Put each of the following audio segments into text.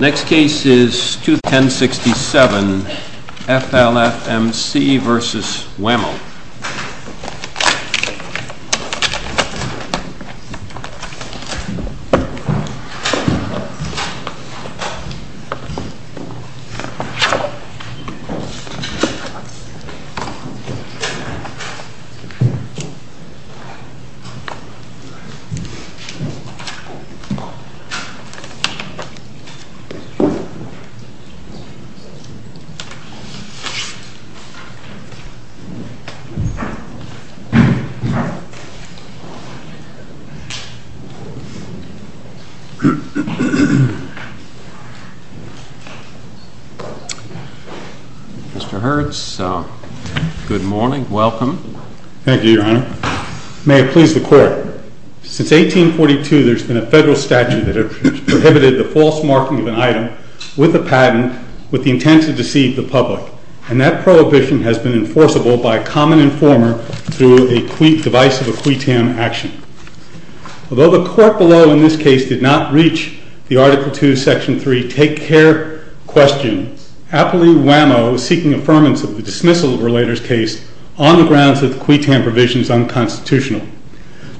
Next case is 21067, FLFMC v. WHAM-O. Mr. Hurts, good morning. Welcome. Thank you, Your Honor. May it please the Court, Since 1842, there has been a federal statute that has prohibited the false marking of an item with a patent with the intent to deceive the public, and that prohibition has been enforceable by a common informer through the device of a QUITAM action. Although the Court below in this case did not reach the Article II, Section 3, Take Care Question, Appellee WHAM-O is seeking affirmance of the dismissal of a relator's provision is unconstitutional.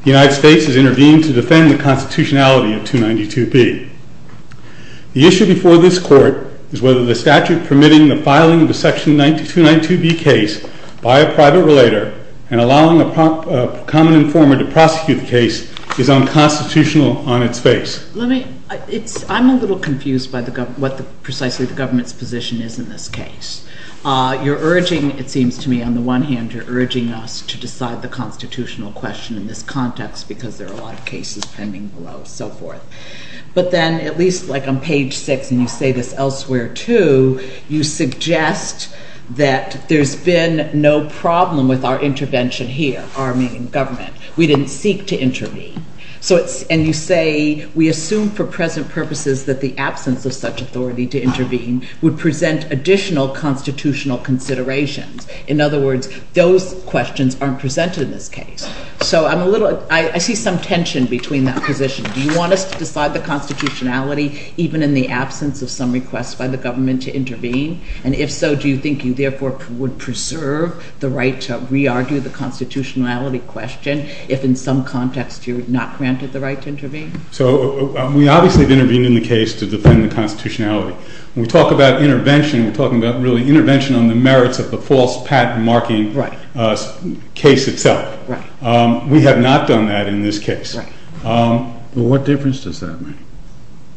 The United States has intervened to defend the constitutionality of 292B. The issue before this Court is whether the statute permitting the filing of a Section 292B case by a private relator and allowing a common informer to prosecute the case is unconstitutional on its face. I'm a little confused by what precisely the government's position is in this case. You're urging us to decide the constitutional question in this context because there are a lot of cases pending below, so forth. But then, at least like on page 6, and you say this elsewhere too, you suggest that there's been no problem with our intervention here, our main government. We didn't seek to intervene. And you say, we assume for present purposes that the absence of such authority to intervene would present additional constitutional considerations. In other words, those questions aren't presented in this case. So I'm a little, I see some tension between that position. Do you want us to decide the constitutionality even in the absence of some requests by the government to intervene? And if so, do you think you therefore would preserve the right to re-argue the constitutionality question if in some context you're not granted the right to intervene? So we obviously have intervened in the case to defend the constitutionality. When we talk about intervention, we're talking about really intervention on the merits of the false patent marking case itself. We have not done that in this case. What difference does that make?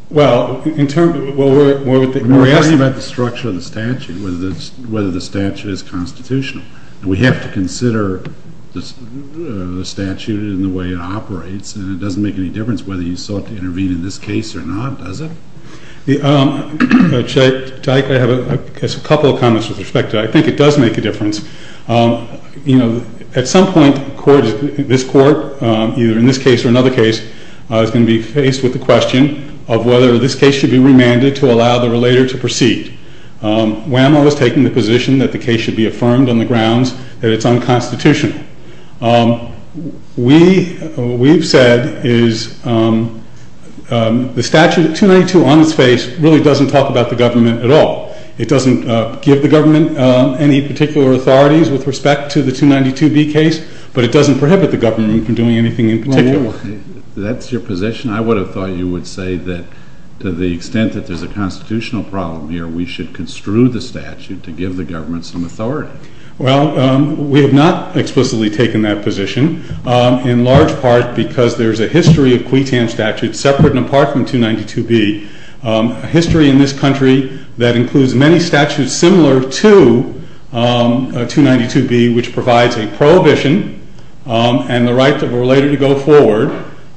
Well, in terms, we're asking about the structure of the statute, whether the statute is constitutional. We have to consider the statute and the way it operates, and it doesn't make any difference whether you sought to intervene in this case or not, does it? Jake, I have a couple of comments with respect to that. I think it does make a difference. At some point, this court, either in this case or another case, is going to be faced with the question of whether this case should be remanded to allow the relator to proceed. WHAMO is taking the position that the case should be affirmed on the grounds that it's unconstitutional. What we've said is the statute, 292 on its face, really doesn't talk about the government at all. It doesn't give the government any particular authorities with respect to the 292B case, but it doesn't prohibit the government from doing anything in particular. That's your position? I would have thought you would say that to the extent that there's a constitutional problem here, we should construe the statute to give the government some authority. Well, we have not explicitly taken that position, in large part because there's a history of QUETAM statutes separate and apart from 292B, a history in this country that includes many statutes similar to 292B, which provides a prohibition and the right of a relator to go forward.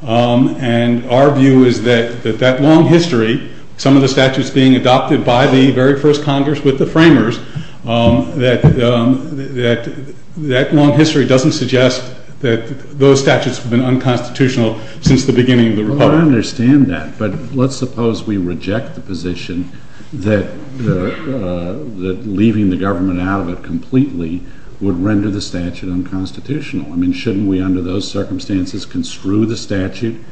And our view is that that long history, some of the statutes being adopted by the very first Congress with the framers, that long history doesn't suggest that those statutes have been unconstitutional since the beginning of the republic. Well, I understand that, but let's suppose we reject the position that leaving the government out of it completely would render the statute unconstitutional. I mean, shouldn't we under those circumstances construe the statute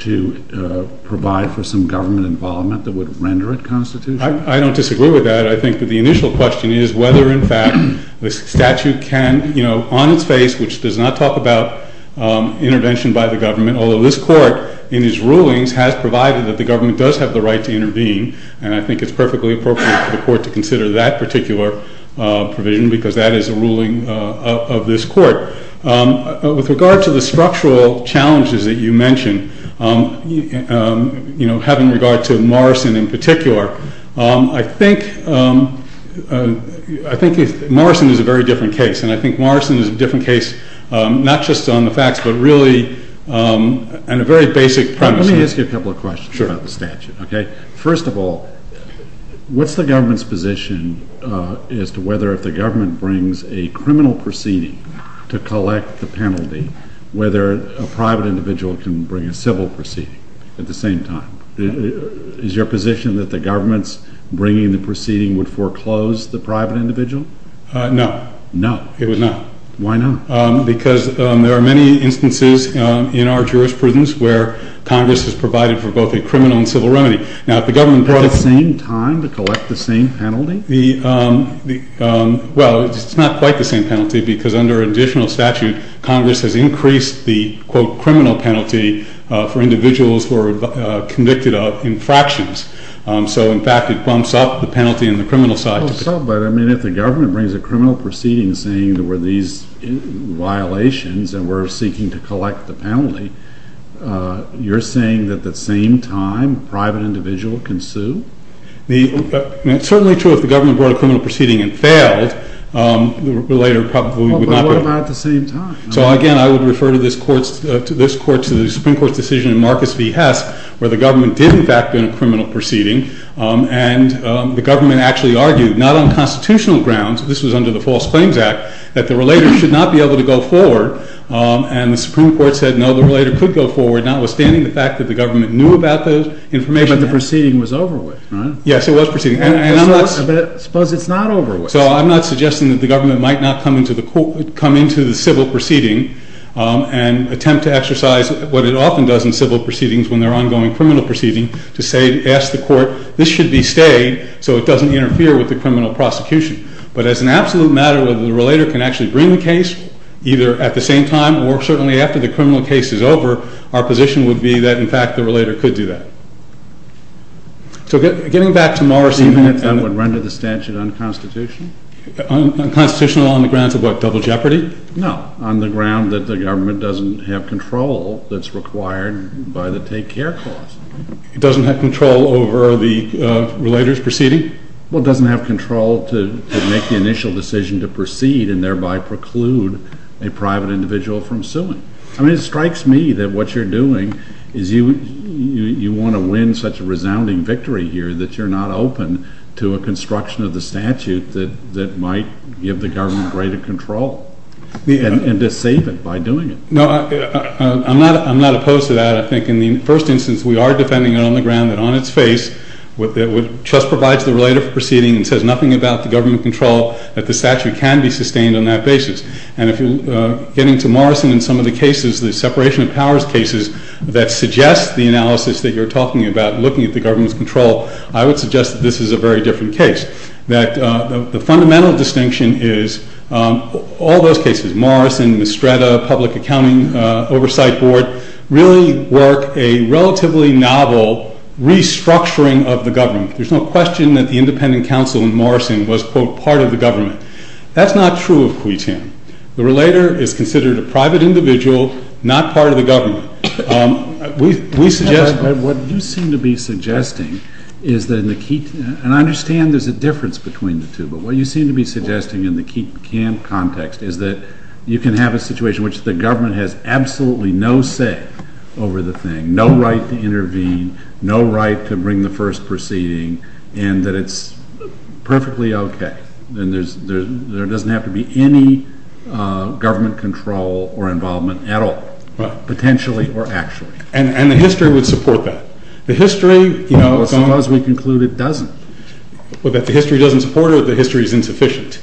to provide for some government involvement that would render it constitutional? I don't disagree with that. I think that the initial question is whether, in fact, the statute can, you know, on its face, which does not talk about intervention by the government, although this Court, in its rulings, has provided that the government does have the right to intervene, and I think it's perfectly appropriate for the Court to consider that particular provision, because that is a ruling of this Court. With regard to the structural challenges that you mentioned, you know, having regard to Morrison in particular, I think Morrison is a very different case, and I think Morrison is a different case not just on the facts, but really on a very basic premise. Let me ask you a couple of questions about the statute, okay? First of all, what's the government's position as to whether if the government brings a criminal proceeding to collect the penalty, whether a private individual can bring a civil proceeding at the same time? Is your position that the government's bringing the proceeding would foreclose the private individual? No. No? It would not. Why not? Because there are many instances in our jurisprudence where Congress has provided for both a criminal and civil remedy. Now, if the government brought a— At the same time to collect the same penalty? Well, it's not quite the same penalty, because under additional statute, Congress has increased the, quote, criminal penalty for individuals who are convicted of infractions. So, in fact, it bumps up the penalty on the criminal side. But, I mean, if the government brings a criminal proceeding saying there were these violations and we're seeking to collect the penalty, you're saying that at the same time a private individual can sue? It's certainly true if the government brought a criminal proceeding and failed, later probably we would not— Well, but what about at the same time? So, again, I would refer to this Court's—to this Court's Supreme Court's decision in Marcus v. Hess where the government did, in fact, bring a criminal proceeding and the government actually argued, not on constitutional grounds—this was under the False Claims Act—that the relator should not be able to go forward. And the Supreme Court said, no, the relator could go forward, notwithstanding the fact that the government knew about the information. But the proceeding was over with, right? Yes, it was proceeding. And I'm not— But suppose it's not over with? So, I'm not suggesting that the government might not come into the civil proceeding and attempt to exercise what it often does in civil proceedings when they're ongoing criminal proceedings to say—to ask the Court, this should be stayed so it doesn't interfere with the criminal prosecution. But as an absolute matter, whether the relator can actually bring the case, either at the same time or certainly after the criminal case is over, our position would be that, in fact, the relator could do that. So getting back to Morris— I would render the statute unconstitutional. Unconstitutional on the grounds of what, double jeopardy? No, on the ground that the government doesn't have control that's required by the Take Care Clause. It doesn't have control over the relator's proceeding? Well, it doesn't have control to make the initial decision to proceed and thereby preclude a private individual from suing. I mean, it strikes me that what you're doing is you want to win such a resounding victory here that you're not open to a construction of the statute that might give the government greater control and to save it by doing it. No, I'm not opposed to that. I think in the first instance, we are defending it on the ground that on its face, what the trust provides the relator for proceeding and says nothing about the government control, that the statute can be sustained on that basis. And getting to Morrison and some of the cases, the separation of powers cases that suggest the analysis that you're talking about, looking at the government's control, I would suggest that this is a very different case. That the fundamental distinction is all those cases, Morrison, Mistretta, Public Accounting Oversight Board, really work a relatively novel restructuring of the government. There's no question that the independent counsel in Morrison was, quote, part of the government. That's not true of Cuitin. The relator is considered a private individual, not part of the government. What you seem to be suggesting is that in the key, and I understand there's a difference between the two, but what you seem to be suggesting in the key context is that you can have a situation in which the government has absolutely no say over the thing, no right to intervene, no right to bring the first proceeding, and that it's perfectly okay, and there doesn't have to be any government control or involvement at all, potentially or actually. And the history would support that. The history, you know... Well, suppose we conclude it doesn't. What, that the history doesn't support it, or the history is insufficient?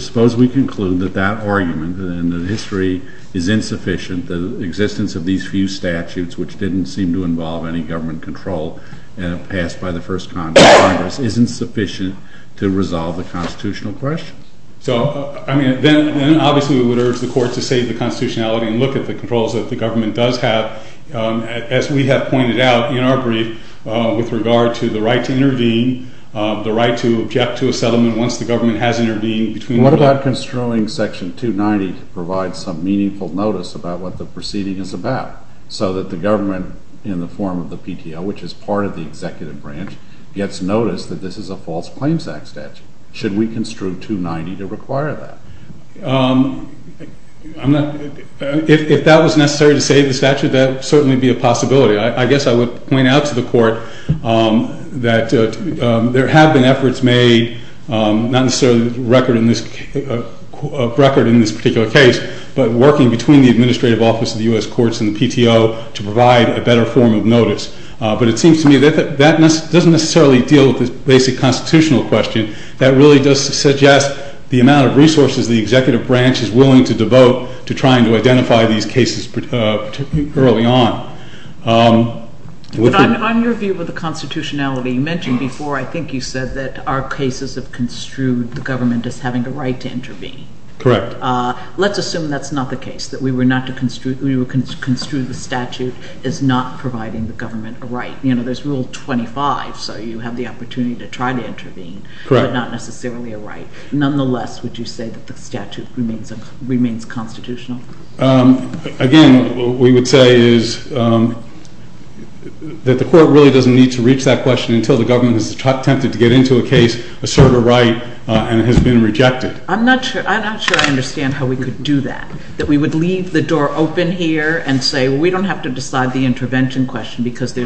Suppose we conclude that that argument, and the history is insufficient, the existence of these few statutes which didn't seem to involve any government control and passed by the first Congress, isn't sufficient to resolve the constitutional question. So, I mean, then obviously we would urge the court to save the constitutionality and look at the controls that the government does have, as we have pointed out in our brief with regard to the right to intervene, the right to object to a settlement once the government has intervened between the... What about construing Section 290 to provide some meaningful notice about what the proceeding is about, so that the government, in the form of the PTO, which is part of the executive branch, gets notice that this is a false claims act statute? Should we construe 290 to require that? I'm not... If that was necessary to save the statute, that would certainly be a possibility. I guess I would point out to the court that there have been efforts made, not necessarily a record in this particular case, but working between the Administrative Office of the U.S. Courts and the PTO to provide a better form of notice. But it seems to me that that doesn't necessarily deal with the basic constitutional question. That really does suggest the amount of resources the executive branch is willing to devote to trying to identify these cases early on. But on your view of the constitutionality, you mentioned before, I think you said that our cases have construed the government as having a right to intervene. Correct. Let's assume that's not the case, that we were not to construe... We would construe the statute as not providing the government a right. There's Rule 25, so you have the opportunity to try to intervene. Correct. But not necessarily a right. Nonetheless, would you say that the statute remains constitutional? Again, what we would say is that the court really doesn't need to reach that question until the government is tempted to get into a case, assert a right, and it has been rejected. I'm not sure I understand how we could do that. That we would leave the door open here and say, we don't have to decide the intervention question because there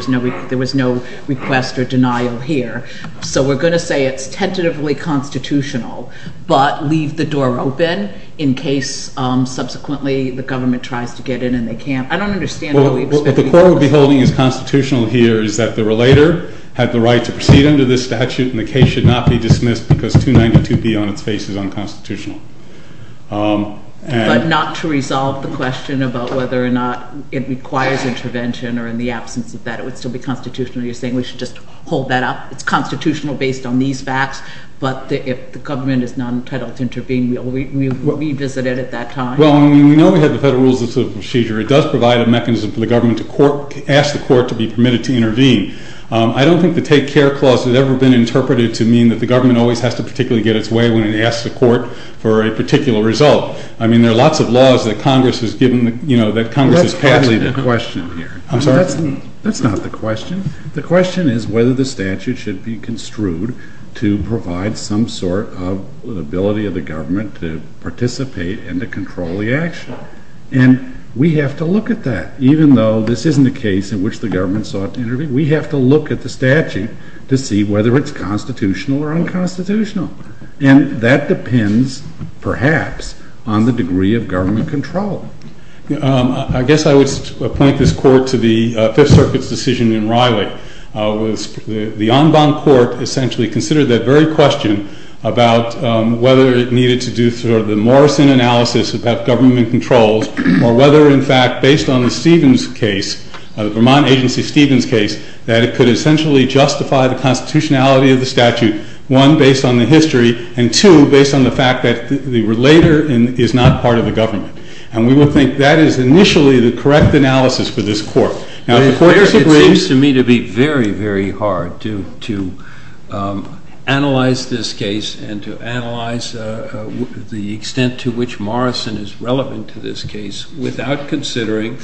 was no request or denial here. So we're going to say it's tentatively constitutional, but leave the door open in case subsequently the government tries to get in and they can't. I don't understand how we expect... What the court would be holding as constitutional here is that the relator had the right to proceed under this statute and the case should not be dismissed because 292B on its face is unconstitutional. But not to resolve the question about whether or not it requires intervention or in the absence of that it would still be constitutional. You're saying we should just hold that up. It's constitutional based on these facts, but if the government is not entitled to intervene, we'll revisit it at that time. Well, we know we have the Federal Rules of Procedure. It does provide a mechanism for the government to ask the court to be permitted to intervene. I don't think the Take Care Clause has ever been interpreted to mean that the government always has to particularly get its way when it asks the court for a particular result. I mean, there are lots of laws that Congress has passed... That's hardly the question here. I'm sorry? That's not the question. The question is whether the statute should be construed to provide some sort of ability of the government to participate and to control the action. And we have to look at that, even though this isn't a case in which the government sought to intervene. We have to look at the statute to see whether it's constitutional or unconstitutional. And that depends, perhaps, on the degree of government control. I guess I would point this court to the Fifth Circuit's decision in Riley. The en banc court essentially considered that very question about whether it needed to do sort of the Morrison analysis about government controls or whether, in fact, based on the Stevens case, the Vermont Agency Stevens case, that it could essentially justify the constitutionality of the statute, one, based on the history, and two, based on the fact that the relator is not part of the government. And we will think that is initially the correct analysis for this court. It seems to me to be very, very hard to analyze this case and to analyze the extent to which Morrison is relevant to this case without considering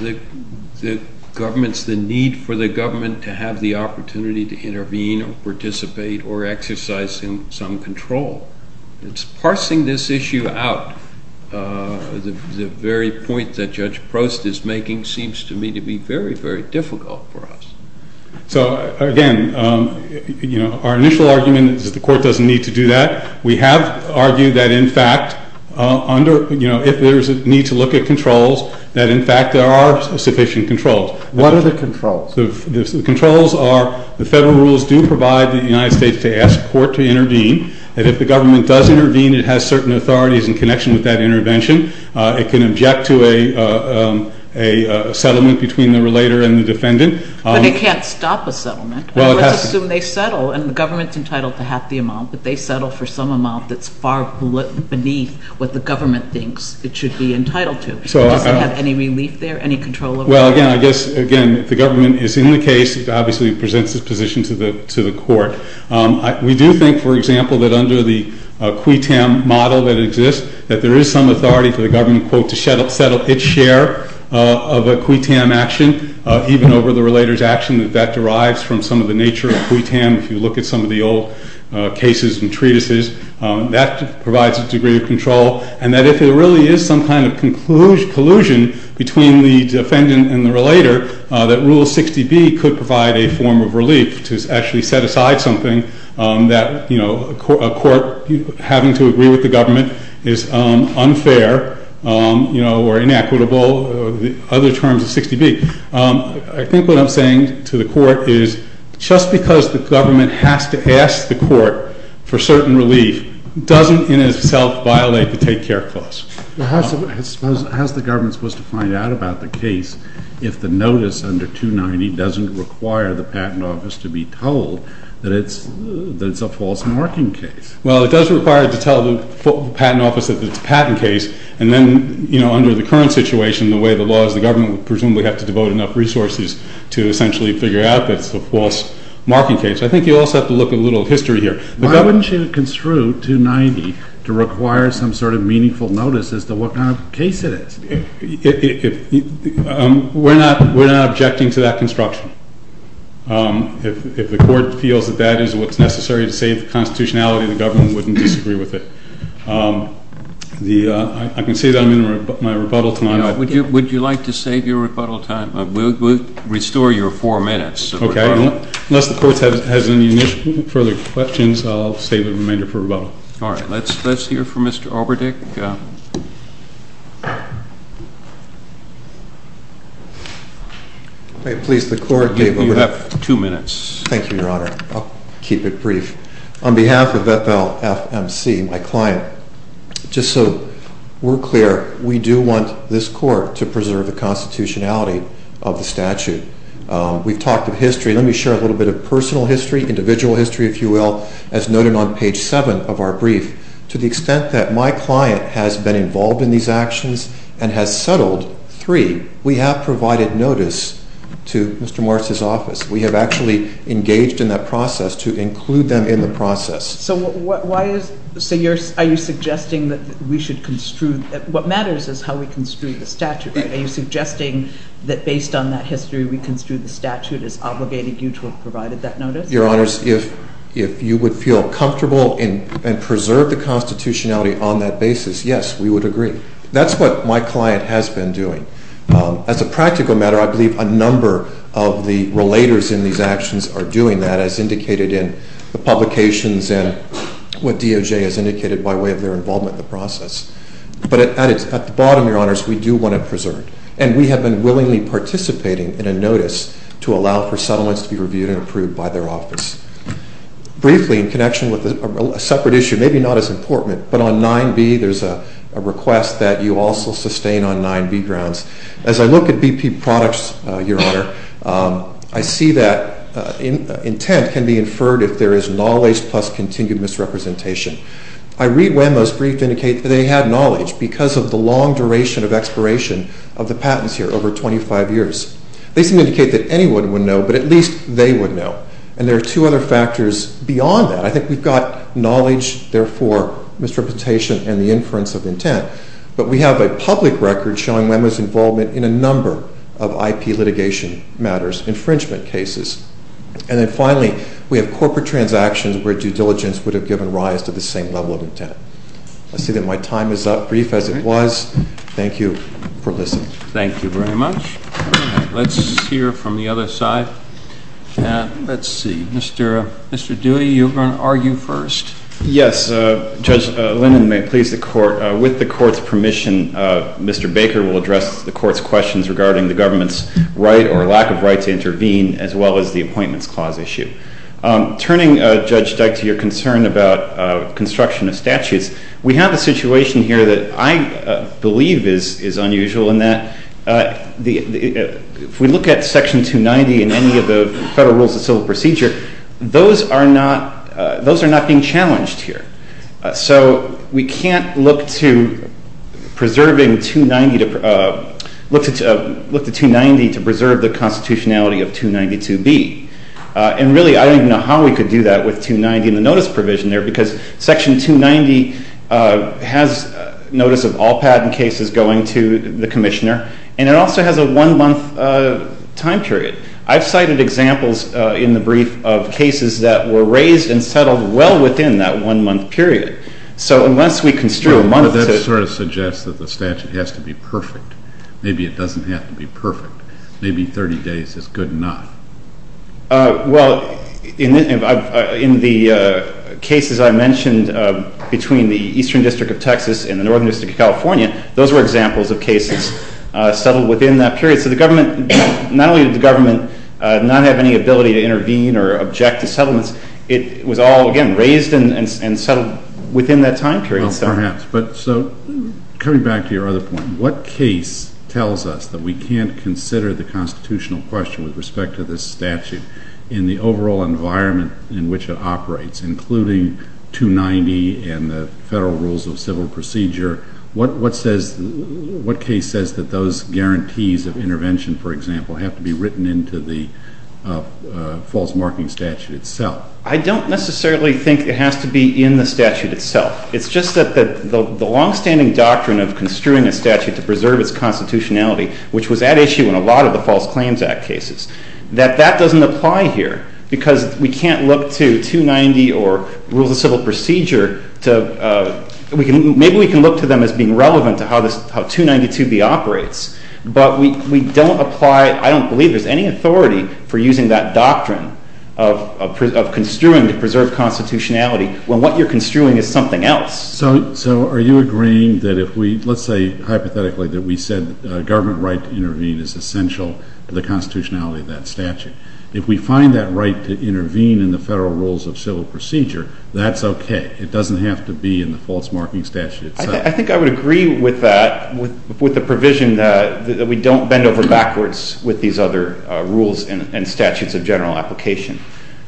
the government's, the need for the government to have the opportunity to intervene or participate or exercise some control. It's parsing this issue out, the very point that Judge Prost is making, seems to me to be very, very difficult for us. So, again, our initial argument is that the court doesn't need to do that. We have argued that, in fact, if there is a need to look at controls, that, in fact, there are sufficient controls. What are the controls? The controls are the federal rules do provide the United States to ask court to intervene and if the government does intervene, it has certain authorities in connection with that intervention. It can object to a settlement between the relator and the defendant. But it can't stop a settlement. Well, it has to. Let's assume they settle and the government's entitled to half the amount, but they settle for some amount that's far beneath what the government thinks it should be entitled to. Does it have any relief there, any control over it? Well, again, I guess, again, if the government is in the case, it obviously presents its position to the court. We do think, for example, that under the QUETAM model that exists, that there is some authority for the government, quote, to settle its share of a QUETAM action, even over the relator's action, that that derives from some of the nature of QUETAM. If you look at some of the old cases and treatises, that provides a degree of control. And that if there really is some kind of collusion between the defendant and the relator, that Rule 60B could provide a form of relief to actually set aside something that, you know, a court having to agree with the government is unfair, you know, or inequitable, or other terms of 60B. I think what I'm saying to the court is just because the government has to ask the court for certain relief doesn't in itself violate the Take Care Clause. Well, how's the government supposed to find out about the case if the notice under 290 doesn't require the Patent Office to be told that it's a false marking case? Well, it does require it to tell the Patent Office that it's a patent case. And then, you know, under the current situation, the way the law is, the government would presumably have to devote enough resources to essentially figure out that it's a false marking case. I think you also have to look at a little history here. Why wouldn't you construe 290 to require some sort of meaningful notice as to what kind of case it is? We're not objecting to that construction. If the court feels that that is what's necessary to save the constitutionality, the government wouldn't disagree with it. I can say that I'm in my rebuttal time. Would you like to save your rebuttal time? We'll restore your four minutes. Okay, unless the court has any further questions, I'll save the remainder for rebuttal. All right, let's hear from Mr. Alberdick. Please, the court may move. You have two minutes. Thank you, Your Honor. I'll keep it brief. On behalf of FLFMC, my client, just so we're clear, we do want this court to preserve the constitutionality of the statute. We've talked of history. Let me share a little bit of personal history, individual history, if you will, as noted on page 7 of our brief. To the extent that my client has been involved in these actions and has settled, 3. We have provided notice to Mr. Morris' office. We have actually engaged in that process to include them in the process. So are you suggesting that we should construe what matters is how we construe the statute. Are you suggesting that based on that history, we construe the statute as obligating you to have provided that notice? Your Honors, if you would feel comfortable and preserve the constitutionality on that basis, yes, we would agree. That's what my client has been doing. As a practical matter, I believe a number of the relators in these actions are doing that, as indicated in the publications and what DOJ has indicated by way of their involvement in the process. But at the bottom, Your Honors, we do want to preserve. And we have been willingly participating in a notice to allow for settlements to be reviewed and approved by their office. Briefly, in connection with a separate issue, maybe not as important, but on 9b, there's a request that you also sustain on 9b grounds. As I look at BP products, Your Honor, I see that intent can be inferred if there is knowledge plus continued misrepresentation. I read WEMO's brief to indicate that they had knowledge because of the long duration of expiration of the patents here, over 25 years. They seem to indicate that anyone would know, but at least they would know. And there are two other factors beyond that. I think we've got knowledge, therefore misrepresentation and the inference of intent. But we have a public record showing WEMO's involvement in a number of IP litigation matters, infringement cases. And then finally, we have corporate transactions where due diligence would have given rise to the same level of intent. I see that my time is up, brief as it was. Thank you for listening. Thank you very much. Let's hear from the other side. Let's see. Mr. Dewey, you're going to argue first. Yes. Judge Linden, may it please the Court, with the Court's permission, Mr. Baker will address the Court's questions regarding the government's right or lack of right to intervene as well as the Appointments Clause issue. Turning, Judge Dyke, to your concern about construction of statutes, we have a situation here that I believe is unusual in that if we look at Section 290 in any of the Federal Rules of Civil Procedure, those are not being challenged here. So we can't look to preserving 290 to preserve the constitutionality of 292B. And really, I don't even know how we could do that with 290 and the notice provision there because Section 290 has notice of all patent cases going to the Commissioner and it also has a one-month time period. I've cited examples in the brief of cases that were raised and settled well within that one-month period. So unless we construe a month to... Well, but that sort of suggests that the statute has to be perfect. Maybe it doesn't have to be perfect. Maybe 30 days is good enough. Well, in the cases I mentioned between the Eastern District of Texas and the Northern District of California, those were examples of cases settled within that period. So the government, not only did the government not have any ability to intervene or object to settlements, it was all, again, raised and settled within that time period. Well, perhaps. So coming back to your other point, what case tells us that we can't consider the constitutional question with respect to this statute in the overall environment in which it operates, including 290 and the Federal Rules of Civil Procedure? What case says that those guarantees of intervention, for example, have to be written into the false marking statute itself? I don't necessarily think it has to be in the statute itself. It's just that the long-standing doctrine of construing a statute to preserve its constitutionality, which was at issue in a lot of the False Claims Act cases, that that doesn't apply here because we can't look to 290 or Rules of Civil Procedure to... Maybe we can look to them as being relevant to how 292B operates, but we don't apply... I don't believe there's any authority for using that doctrine of construing to preserve constitutionality when what you're construing is something else. So are you agreeing that if we... Let's say hypothetically that we said government right to intervene is essential to the constitutionality of that statute. If we find that right to intervene in the Federal Rules of Civil Procedure, that's okay. It doesn't have to be in the false marking statute itself. I think I would agree with that, with the provision that we don't bend over backwards with these other rules and statutes of general application.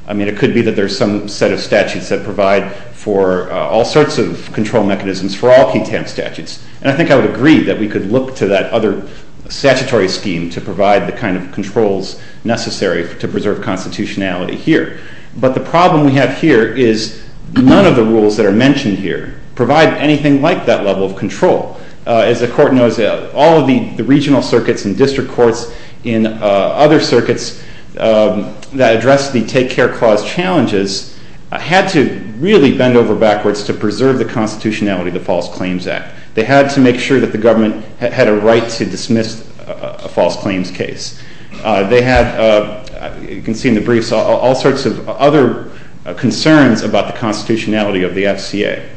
I mean, it could be that there's some set of statutes that provide for all sorts of control mechanisms for all KTAM statutes. And I think I would agree that we could look to that other statutory scheme to provide the kind of controls necessary to preserve constitutionality here. But the problem we have here is none of the rules that are mentioned here provide anything like that level of control. As the Court knows, all of the regional circuits and district courts in other circuits that address the Take Care Clause challenges had to really bend over backwards to preserve the constitutionality of the False Claims Act. They had to make sure that the government had a right to dismiss a false claims case. They had, you can see in the briefs, all sorts of other concerns about the constitutionality of the FCA.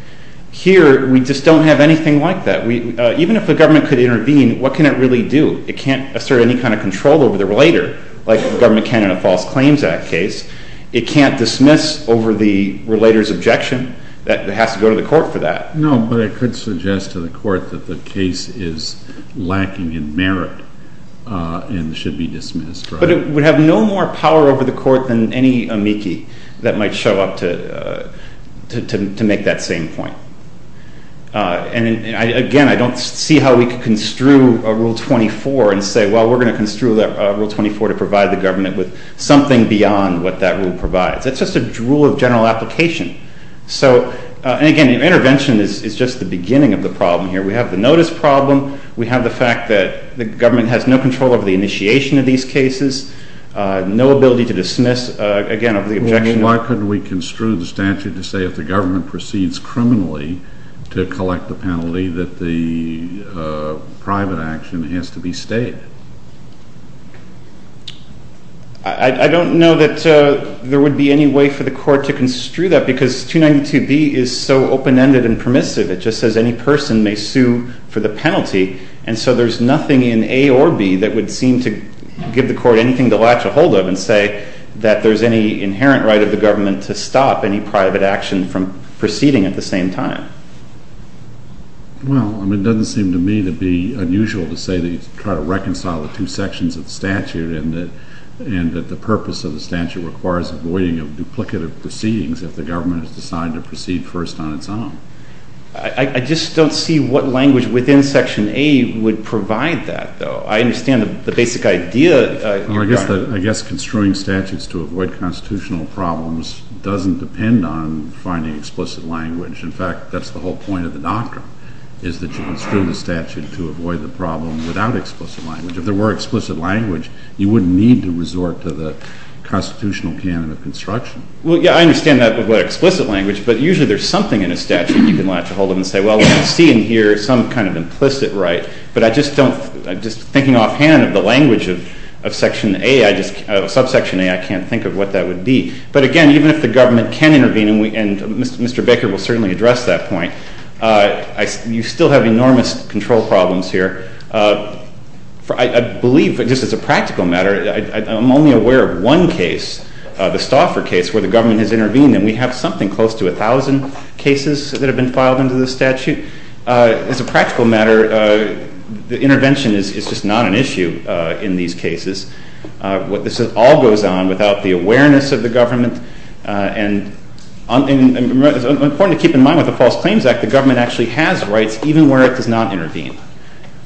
Here, we just don't have anything like that. Even if the government could intervene, what can it really do? It can't assert any kind of control over the relator like the government can in a False Claims Act case. It can't dismiss over the relator's objection. It has to go to the court for that. No, but it could suggest to the court that the case is lacking in merit and should be dismissed. But it would have no more power over the court than any amici that might show up to make that same point. And again, I don't see how we could construe Rule 24 and say, well, we're going to construe Rule 24 to provide the government with something beyond what that rule provides. It's just a drool of general application. So, and again, intervention is just the beginning of the problem here. We have the notice problem. We have the fact that the government has no control over the initiation of these cases. No ability to dismiss again, over the objection. Well, then, why couldn't we construe the statute to say if the government proceeds criminally to collect the penalty that the private action has to be stated? I don't know that there would be any way for the court to construe that because 292B is so open-ended and permissive. It just says any person may sue for the penalty and so there's nothing in A or B that would seem to give the court anything to latch a hold of and say that there's any inherent right of the government to stop any private action from proceeding at the same time. Well, I mean, it doesn't seem to me to be unusual to say that you try to reconcile the two sections of the statute and that the purpose of the statute requires avoiding duplicative proceedings if the government has decided to proceed first on its own. I just don't see what language within Section A would provide that, though. I understand the basic idea. I guess construing statutes to avoid constitutional problems doesn't depend on finding explicit language. In fact, that's the whole point of the doctrine is that you construe the statute to avoid the problem without explicit language. If there were explicit language, you wouldn't need to resort to the constitutional canon of construction. Well, yeah, I understand that about explicit language, but usually there's something in a statute you can latch a hold of and say, well, I can't see and hear some kind of implicit right, but I just don't, just thinking offhand of the language of Section A, Subsection A, I can't think of what that would be. But again, even if the government can intervene and Mr. Baker will certainly address that point, you still have enormous control problems here. I believe, just as a practical matter, I'm only aware of one case, the Stauffer case, where the government has intervened and we have something close to 1,000 cases that have been filed into the statute. As a practical matter, the intervention is just not an issue in these cases. This all goes on without the awareness of the government and it's important to keep in mind with the False Claims Act the government actually has rights even where it does not intervene.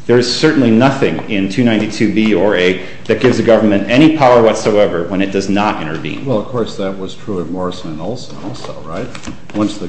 There is certainly nothing in 292B or A that gives the government any power whatsoever when it does not intervene. The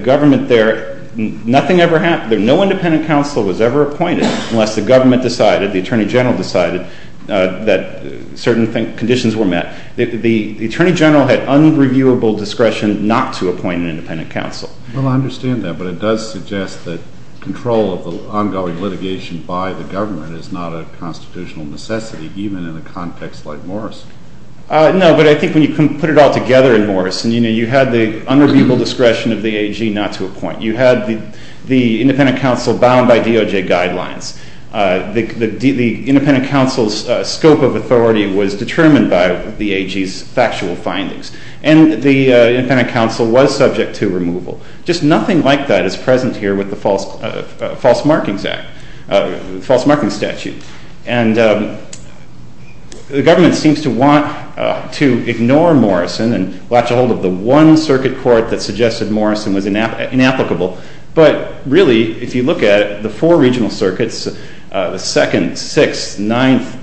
government there, nothing ever happened, no independent counsel was ever appointed unless the government decided, the Attorney General decided that certain conditions were met. The Attorney General had unreviewable discretion not to appoint an independent counsel at that point. You had the independent counsel bound by DOJ guidelines. The independent counsel's scope of authority was determined by the AG's factual findings and the independent counsel was subject to removal. Just nothing like that is present here with the false markings statute. The government seems to want to ignore Morrison and latch a hold of the one circuit court that suggested Morrison was inapplicable but really if you look at the four regional circuits the second sixth ninth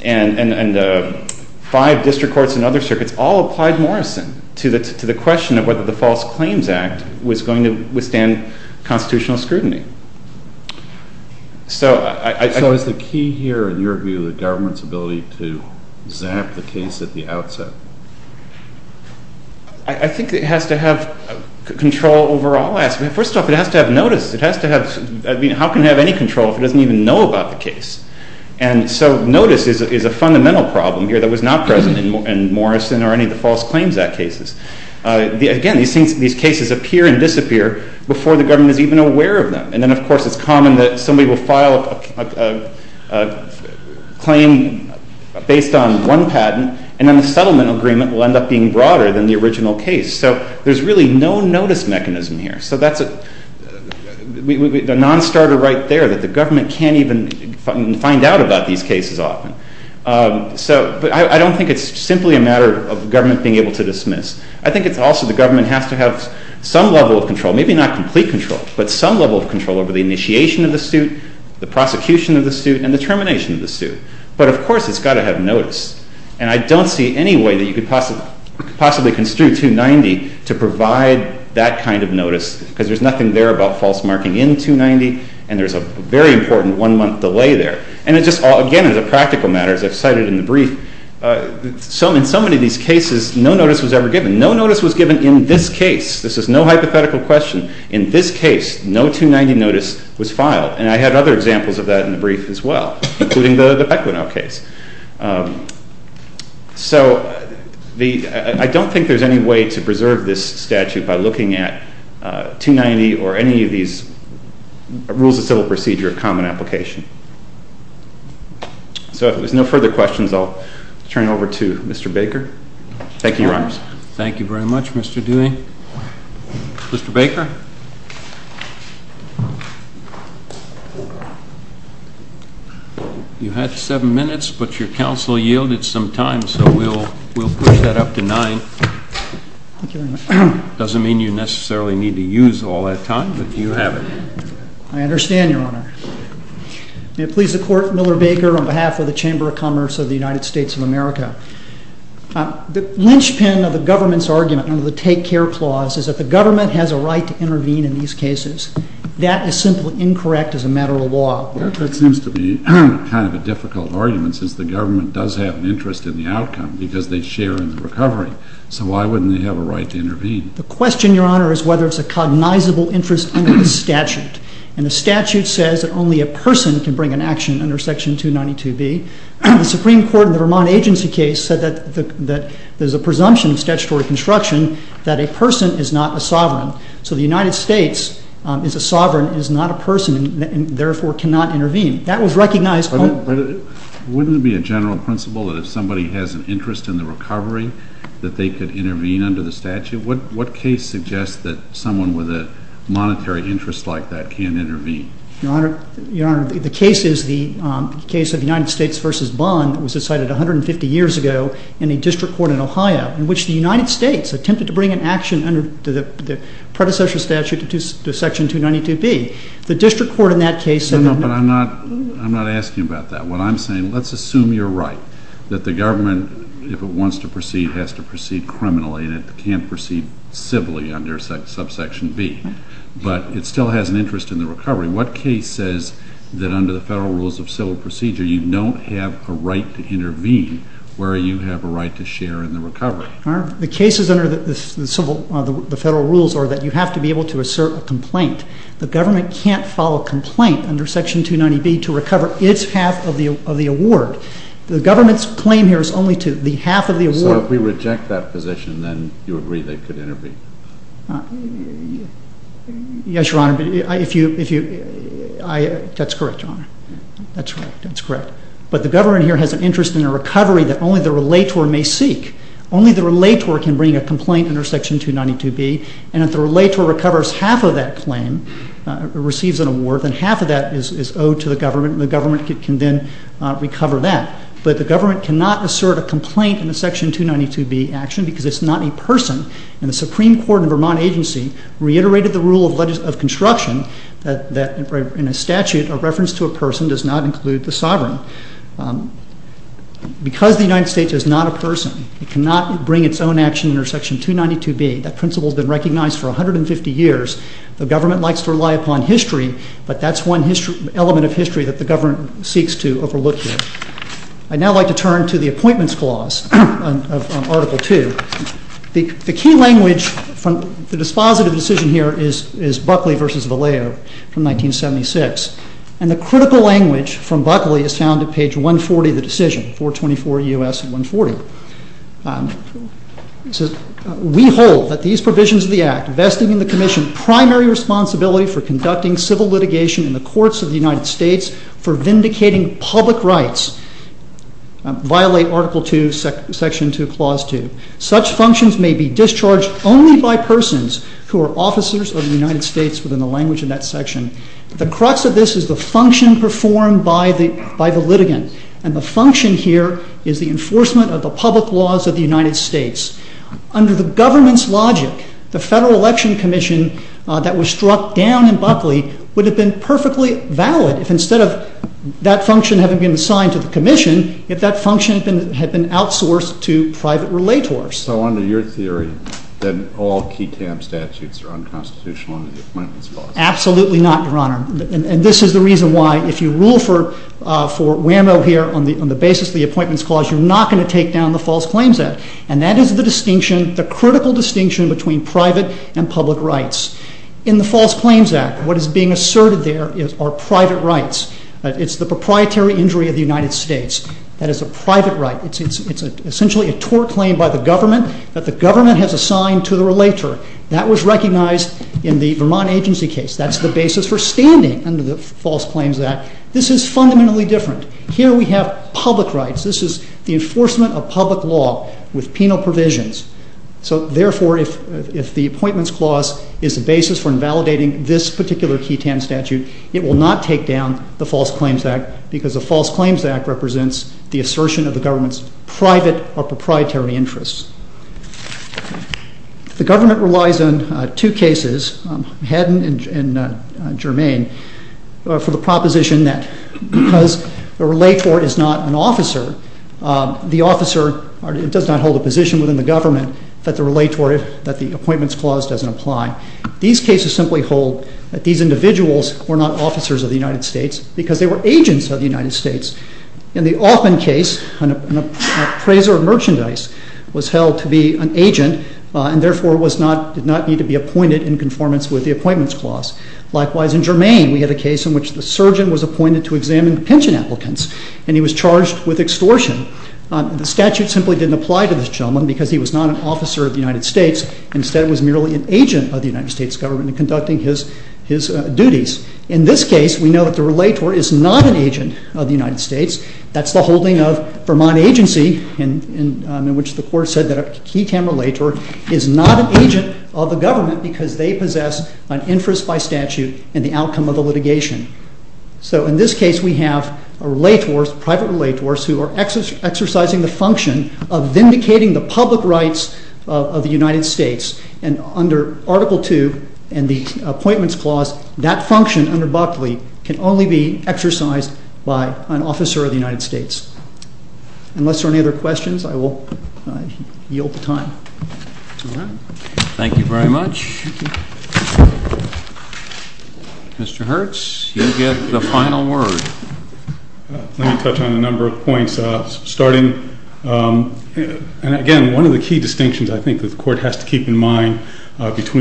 and five district courts and other circuits all applied Morrison to the question of whether the false claims act was going to withstand the original case. Notice is a fundamental problem that was not present in Morrison or any of the false claims act cases. These cases appear and disappear before the government is even aware of them. It's common that somebody will file a claim based on one patent and the settlement agreement will be broader than the original case. There's no notice mechanism here. The government can't even find out about the of the suit, the of the suit, and the termination of the suit. But of course it's got to have notice. I don't see any way you could possibly construe 290 to provide that kind of notice because there's nothing there about false marking in 290 and there's a very important one month delay there. And again as a practical matter as I cited in the brief, in so many of these cases no notice was ever given. No notice was given in this case. This is no hypothetical question. In this case no 290 notice was filed. And I had other examples of that in the brief as well including the Pequeno case. So I don't think there's any way to preserve this statute by looking at 290 or any of these rules of civil procedure of common application. So if there's no further questions I'll turn it over to Baker. Thank you, Your Honor. Thank you very much, Mr. Dewey. Mr. Baker? You had seven minutes but your counsel yielded some time so we'll push that up to nine. Doesn't mean you necessarily need to use all that time but you have it. I understand, Your Honor. May it please the Court, Miller, Baker, on behalf of the Chamber of Commerce of the United States of America. The linchpin of the government's argument under the Federal Civil Procedure is that it still has an interest in the recovery. What case says that under the Federal Rules of Civil Procedure you don't have a right to intervene where you have right to share in the recovery? Your Honor, the cases under the Federal Rules are that you have to be able to assert a complaint. The government can't follow a complaint under Section 290B to recover its half of the award. The government's claim here is only to the half of the award. So if we reject that position and the government receives an award, half of that is owed to the government. The government cannot assert a complaint because it is not a person. The Supreme Court reiterated the rule of construction that does not include the sovereign. Because the United States is not a person, it cannot bring its own action under Section 292B. That principle has been recognized for 150 years. The government likes to call public office. The decision is found at page 140. We hold that these provisions of the act for conducting civil litigation in the courts of the United States for the purpose of enforcing the laws of the United States. Under the government's logic, the Federal Election Commission that was struck down in Buckley would have been perfectly valid if that function had been outsourced to private relators. So under your theory, all key TAM statutes are unconstitutional under the Appointments Clause? Absolutely not, Your Honor. This is the reason why if you rule for validating this particular key TAM statute, it will not take down the False Claims Act because the False Claims Act represents the assertion of the government's private or proprietary interests. The government relies on two things. The government simply holds that these individuals were not officers of the United States they were agents of the United States. In the Altman case, an appraiser of merchandise was held to be an agent of the government because they possessed an interest by statute in the outcome of the litigation. In this case, we have private relators exercising the function of vindicating the public rights of the United States. Under Article 2, that function can only be exercised by an officer of the United States. Unless there are any other questions, I will yield the time. Thank you very much. Mr. Hertz, you get the final word. Let me touch on a number of points. Again, one of the key distinctions the court has to keep in mind is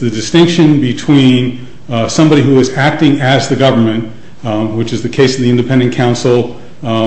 the distinction between somebody who is acting as the government, which is the case of the independent counsel in